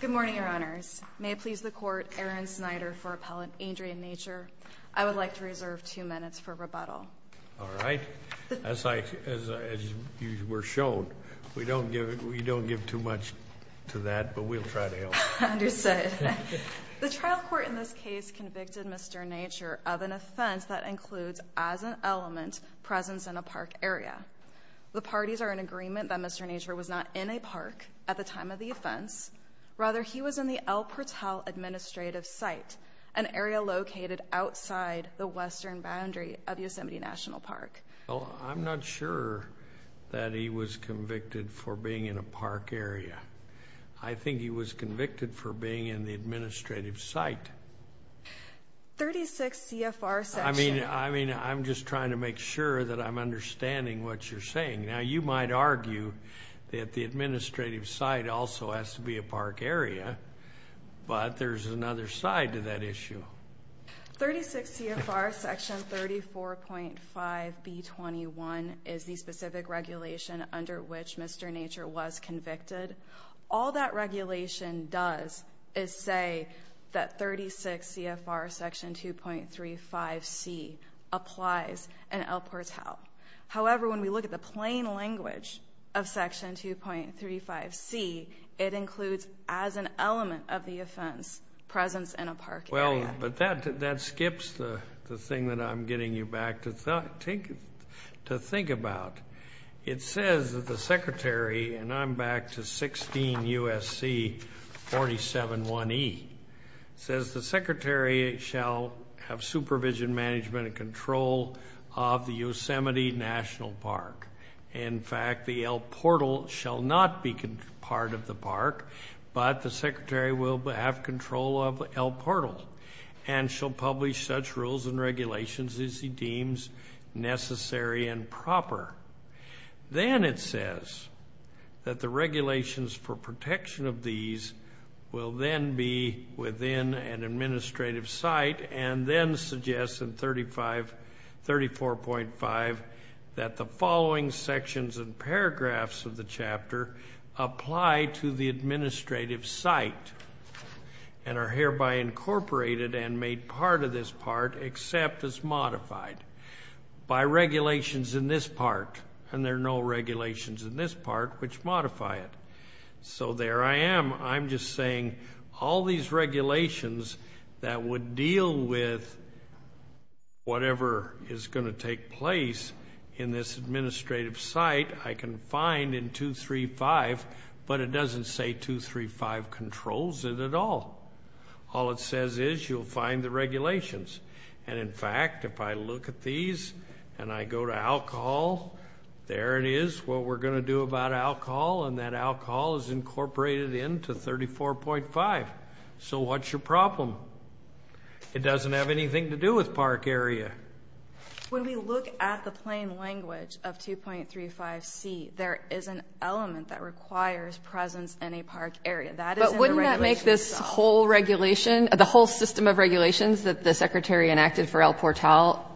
Good morning, Your Honors. May it please the Court, Aaron Snyder for Appellant Adrian Nature. I would like to reserve two minutes for rebuttal. All right. As you were shown, we don't give too much to that, but we'll try to help. Understood. The trial court in this case convicted Mr. Nature of an offense that includes, as an element, presence in a park area. The parties are in agreement that Mr. Nature was not in a park at the time of the offense. Rather, he was in the El Portal Administrative Site, an area located outside the western boundary of Yosemite National Park. Well, I'm not sure that he was convicted for being in a park area. I think he was convicted for being in the administrative site. 36 CFR section. I mean, I'm just trying to make sure that I'm understanding what you're saying. Now, you might argue that the administrative site also has to be a park area, but there's another side to that issue. 36 CFR section 34.5B21 is the specific regulation under which Mr. Nature was convicted. All that regulation does is say that 36 CFR section 2.35C applies in El Portal. However, when we look at the plain language of section 2.35C, it includes, as an element of the offense, presence in a park area. Well, but that skips the thing that I'm getting you back to think about. It says that the secretary, and I'm back to 16 U.S.C. 47.1E, says the secretary shall have supervision, management, and control of the Yosemite National Park. In fact, the El Portal shall not be part of the park, but the secretary will have control of El Portal and shall publish such rules and regulations as he deems necessary and proper. Then it says that the regulations for protection of these will then be within an administrative site and then suggests in 34.5 that the following sections and paragraphs of the chapter apply to the administrative site and are hereby incorporated and made part of this park except as modified by regulations in this park, and there are no regulations in this park which modify it. So there I am. I'm just saying all these regulations that would deal with whatever is going to take place in this administrative site I can find in 235, but it doesn't say 235 controls it at all. All it says is you'll find the regulations, and in fact, if I look at these and I go to alcohol, there it is, what we're going to do about alcohol, and that alcohol is incorporated into 34.5. So what's your problem? It doesn't have anything to do with park area. When we look at the plain language of 2.35c, there is an element that requires presence in a park area. But wouldn't that make this whole regulation, the whole system of regulations that the Secretary enacted for El Portal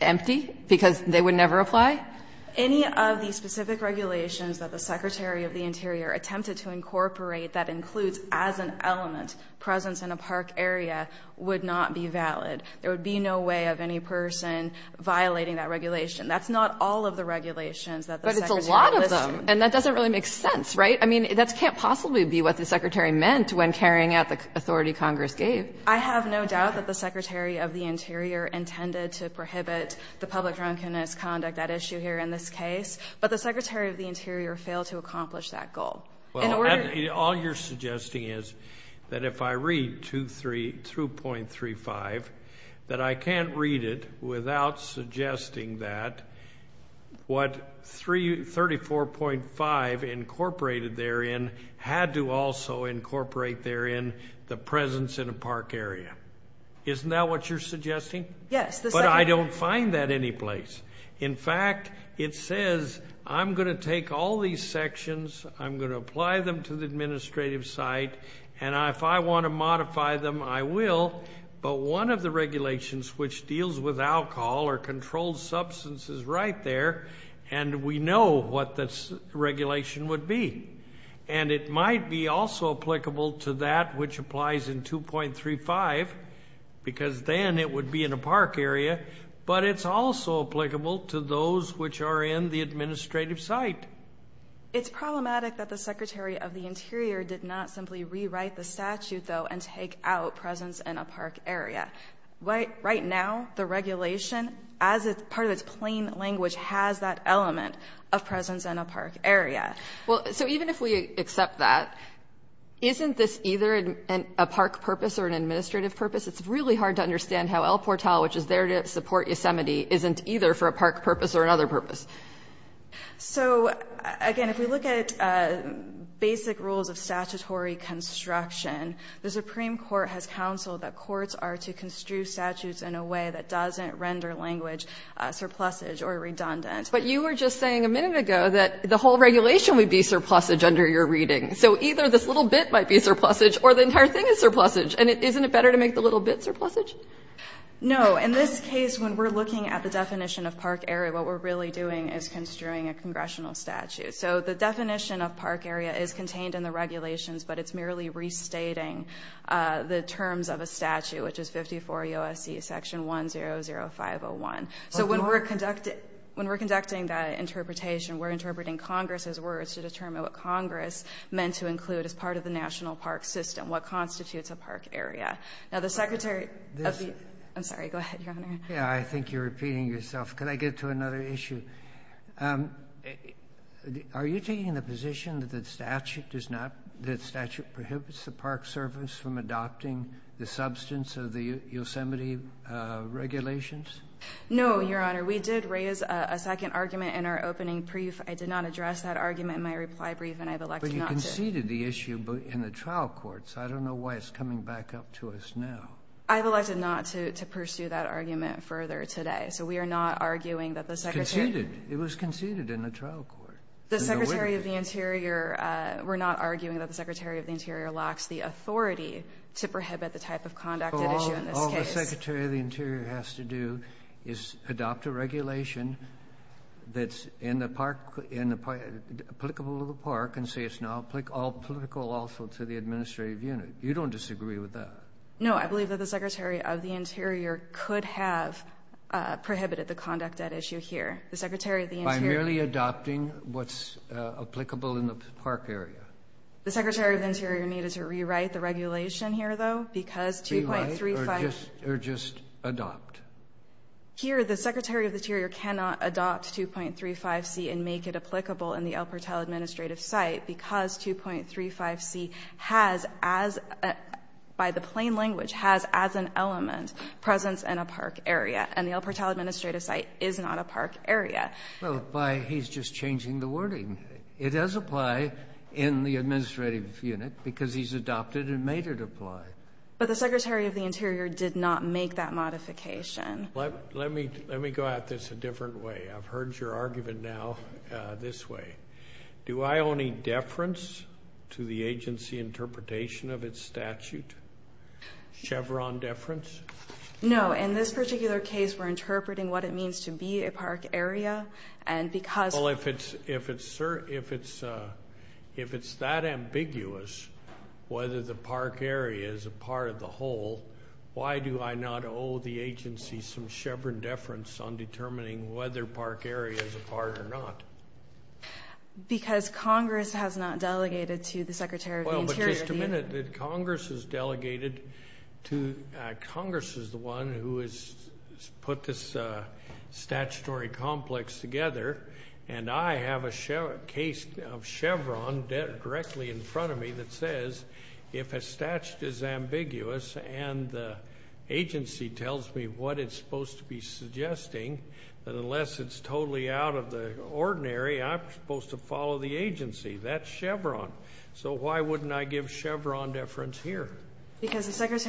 empty because they would never apply? Any of the specific regulations that the Secretary of the Interior attempted to incorporate that includes as an element presence in a park area would not be valid. There would be no way of any person violating that regulation. That's not all of the regulations that the Secretary listed. But it's a lot of them, and that doesn't really make sense, right? I mean, that can't possibly be what the Secretary meant when carrying out the authority Congress gave. I have no doubt that the Secretary of the Interior intended to prohibit the public drunkenness conduct, that issue here in this case. But the Secretary of the Interior failed to accomplish that goal. All you're suggesting is that if I read 2.35, that I can't read it without suggesting that what 34.5 incorporated therein had to also incorporate therein the presence in a park area. Isn't that what you're suggesting? Yes. But I don't find that anyplace. In fact, it says, I'm going to take all these sections. I'm going to apply them to the administrative site. And if I want to modify them, I will. But one of the regulations which deals with alcohol or controlled substance is right there. And we know what this regulation would be. And it might be also applicable to that which applies in 2.35, because then it would be in a park area. But it's also applicable to those which are in the administrative site. It's problematic that the Secretary of the Interior did not simply rewrite the statute, though, and take out presence in a park area. Right now, the regulation, as part of its plain language, has that element of presence in a park area. Well, so even if we accept that, isn't this either a park purpose or an administrative purpose? It's really hard to understand how El Portal, which is there to support Yosemite, isn't either for a park purpose or another purpose. So, again, if we look at basic rules of statutory construction, the Supreme Court has counseled that courts are to construe statutes in a way that doesn't render language surplusage or redundant. But you were just saying a minute ago that the whole regulation would be surplusage under your reading. So either this little bit might be surplusage or the entire thing is surplusage. And isn't it better to make the little bits surplusage? No. In this case, when we're looking at the definition of park area, what we're really doing is construing a congressional statute. So the definition of park area is contained in the regulations, but it's merely restating the terms of a statute, which is 54 U.S.C. section 100501. So when we're conducting that interpretation, we're interpreting Congress's words to determine what Congress meant to include as part of the national park system, what constitutes a park area. Now, the Secretary of the ---- I'm sorry. Go ahead, Your Honor. Yeah. I think you're repeating yourself. Could I get to another issue? Are you taking the position that the statute does not ---- that statute prohibits the Park Service from adopting the substance of the Yosemite regulations? No, Your Honor. We did raise a second argument in our opening brief. I did not address that argument in my reply brief, and I have elected not to. We conceded the issue in the trial courts. I don't know why it's coming back up to us now. I have elected not to pursue that argument further today. So we are not arguing that the Secretary ---- Conceded. It was conceded in the trial court. The Secretary of the Interior ---- We're not arguing that the Secretary of the Interior lacks the authority to prohibit the type of conduct at issue in this case. All the Secretary of the Interior has to do is adopt a regulation that's in the park applicable to the park and say it's now applicable also to the administrative unit. You don't disagree with that? No. I believe that the Secretary of the Interior could have prohibited the conduct at issue here. The Secretary of the Interior ---- By merely adopting what's applicable in the park area. The Secretary of the Interior needed to rewrite the regulation here, though, because 2.35 ---- Rewrite or just adopt? Here, the Secretary of the Interior cannot adopt 2.35c and make it applicable in the El Portal Administrative Site because 2.35c has, as ---- By the plain language, has as an element presence in a park area. And the El Portal Administrative Site is not a park area. Well, by he's just changing the wording. It does apply in the administrative unit because he's adopted and made it apply. But the Secretary of the Interior did not make that modification. Let me go at this a different way. I've heard your argument now this way. Do I own a deference to the agency interpretation of its statute, Chevron deference? No. In this particular case, we're interpreting what it means to be a park area and because ---- If it's that ambiguous whether the park area is a part of the whole, why do I not owe the agency some Chevron deference on determining whether park area is a part or not? Because Congress has not delegated to the Secretary of the Interior the ---- Well, but just a minute. Congress has delegated to ---- Congress is the one who has put this statutory complex together and I have a case of Chevron directly in front of me that says if a statute is ambiguous and the agency tells me what it's supposed to be suggesting, that unless it's totally out of the ordinary, I'm supposed to follow the agency. That's Chevron. So why wouldn't I give Chevron deference here? Okay. Congress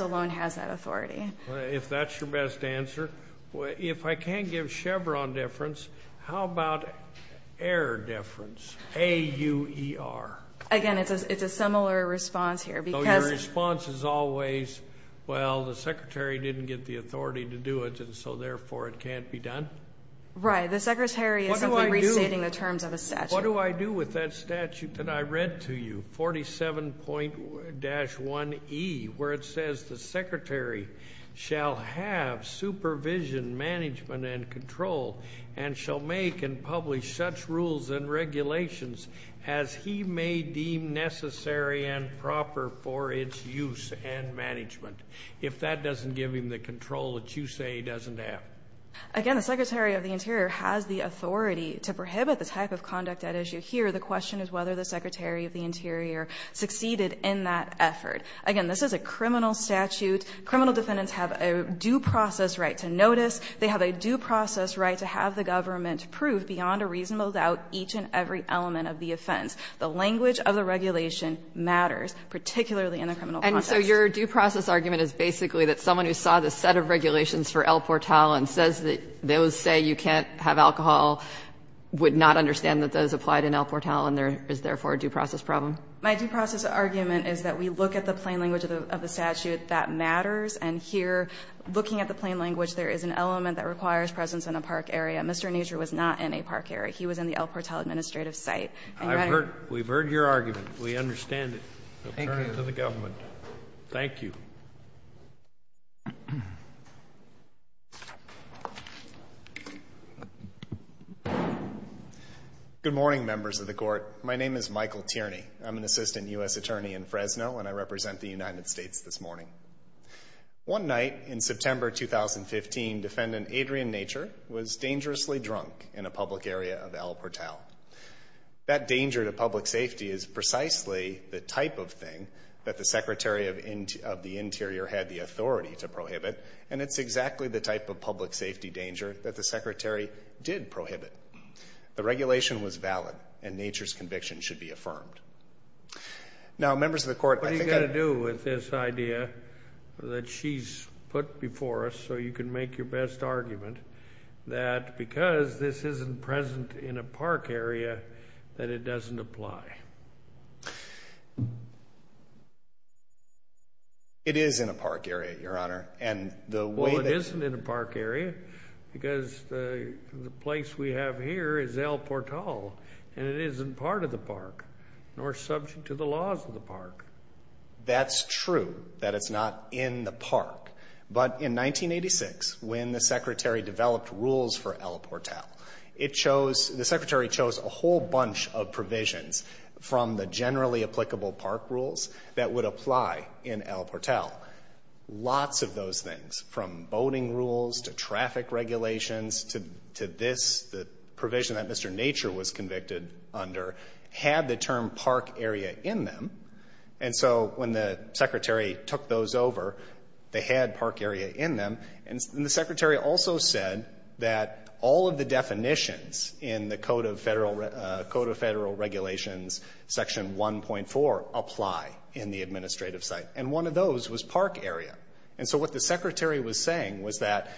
alone has that authority. If that's your best answer. If I can't give Chevron deference, how about air deference? A-U-E-R. Again, it's a similar response here because ---- So your response is always, well, the Secretary didn't get the authority to do it and so therefore it can't be done? Right. The Secretary is simply restating the terms of a statute. What do I do with that statute that I read to you, 47.-1E, where it says the Secretary shall have supervision, management and control and shall make and publish such rules and regulations as he may deem necessary and proper for its use and management. If that doesn't give him the control that you say he doesn't have. Again, the Secretary of the Interior has the authority to prohibit the type of conduct at issue here. The question is whether the Secretary of the Interior succeeded in that effort. Again, this is a criminal statute. Criminal defendants have a due process right to notice. They have a due process right to have the government prove beyond a reasonable doubt each and every element of the offense. The language of the regulation matters, particularly in the criminal context. And so your due process argument is basically that someone who saw the set of regulations for El Portal and says that those say you can't have alcohol would not understand that those applied in El Portal, and there is, therefore, a due process problem? My due process argument is that we look at the plain language of the statute that matters, and here, looking at the plain language, there is an element that requires presence in a park area. Mr. Nasr was not in a park area. He was in the El Portal administrative site. And that is why I'm here. We've heard your argument. We understand it. Thank you. We'll turn it to the government. Thank you. Thank you. Good morning, members of the Court. My name is Michael Tierney. I'm an assistant U.S. attorney in Fresno, and I represent the United States this morning. One night in September 2015, defendant Adrian Nature was dangerously drunk in a public area of El Portal. That danger to public safety is precisely the type of thing that the Secretary of the Interior had the authority to prohibit, and it's exactly the type of public safety danger that the Secretary did prohibit. The regulation was valid, and Nature's conviction should be affirmed. Now, members of the Court, I think I— What do you got to do with this idea that she's put before us so you can make your best argument that because this isn't present in a park area, that it doesn't apply? It is in a park area, Your Honor, and the way that— Well, it isn't in a park area because the place we have here is El Portal, and it isn't part of the park nor subject to the laws of the park. That's true, that it's not in the park. But in 1986, when the Secretary developed rules for El Portal, it chose—the Secretary chose a whole bunch of provisions from the generally applicable park rules that would apply in El Portal. Lots of those things, from boating rules to traffic regulations to this, the provision that Mr. Nature was convicted under, had the term park area in them. And so when the Secretary took those over, they had park area in them. And the Secretary also said that all of the definitions in the Code of Federal Regulations, Section 1.4, apply in the administrative site. And one of those was park area. And so what the Secretary was saying was that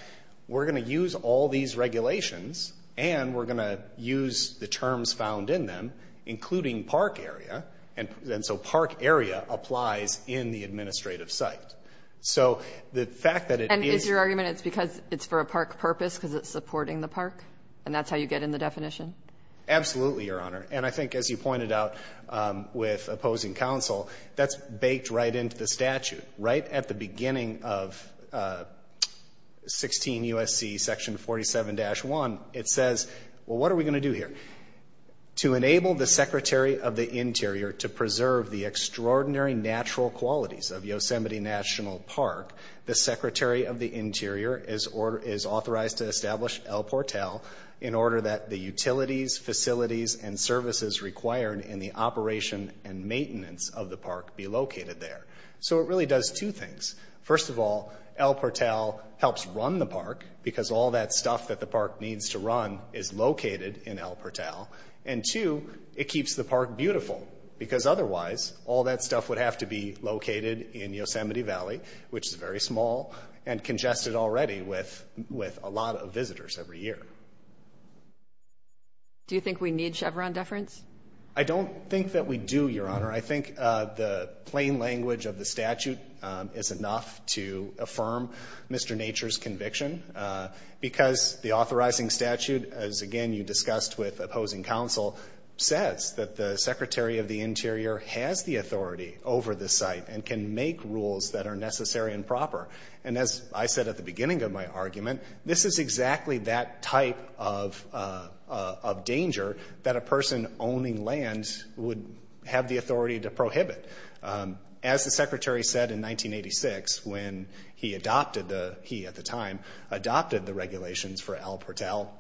we're going to use all these regulations and we're going to use the terms found in them, including park area, and so park area applies in the administrative site. So the fact that it is— And is your argument it's because it's for a park purpose because it's supporting the park, and that's how you get in the definition? Absolutely, Your Honor. And I think, as you pointed out with opposing counsel, that's baked right into the statute. Right at the beginning of 16 U.S.C. Section 47-1, it says, well, what are we going to do here? To enable the Secretary of the Interior to preserve the extraordinary natural qualities of Yosemite National Park, the Secretary of the Interior is authorized to establish El Portal in order that the utilities, facilities, and services required in the operation and maintenance of the park be located there. So it really does two things. First of all, El Portal helps run the park because all that stuff that the park needs to run is located in El Portal. And two, it keeps the park beautiful because otherwise, all that stuff would have to be located in Yosemite Valley, which is very small, and congested already with a lot of visitors every year. Do you think we need Chevron deference? I don't think that we do, Your Honor. I think the plain language of the statute is enough to affirm Mr. Nature's conviction because the authorizing statute, as again you discussed with opposing counsel, says that the Secretary of the Interior has the authority over the site and can make rules that are necessary and proper. And as I said at the beginning of my argument, this is exactly that type of danger that a person owning land would have the authority to prohibit. As the Secretary said in 1986 when he adopted the regulations for El Portal,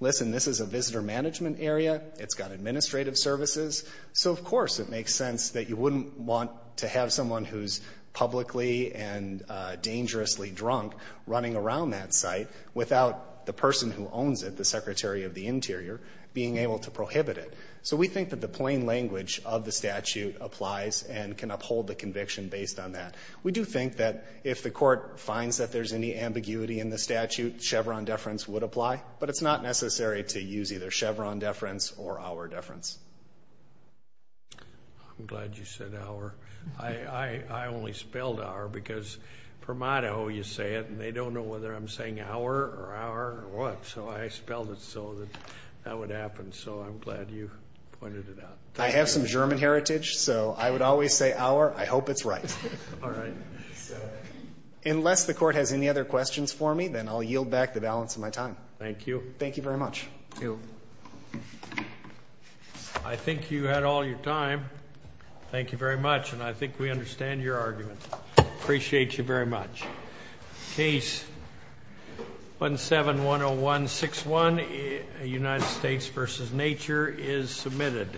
listen, this is a visitor management area, it's got administrative services, so of course it makes sense that you wouldn't want to have someone who's publicly and dangerously drunk running around that site without the person who owns it, the Secretary of the Interior, being able to prohibit it. So we think that the plain language of the statute applies and can uphold the conviction based on that. We do think that if the court finds that there's any ambiguity in the statute, Chevron deference would apply, but it's not necessary to use either Chevron deference or our deference. I'm glad you said our. I only spelled our because for motto you say it and they don't know whether I'm saying our or our or what, so I spelled it so that that would happen, so I'm glad you pointed it out. I have some German heritage, so I would always say our. I hope it's right. Unless the court has any other questions for me, then I'll yield back the balance of my time. Thank you. Thank you very much. I think you had all your time. Thank you very much, and I think we understand your argument. Appreciate you very much. Case 17-10161, United States v. Nature, is submitted.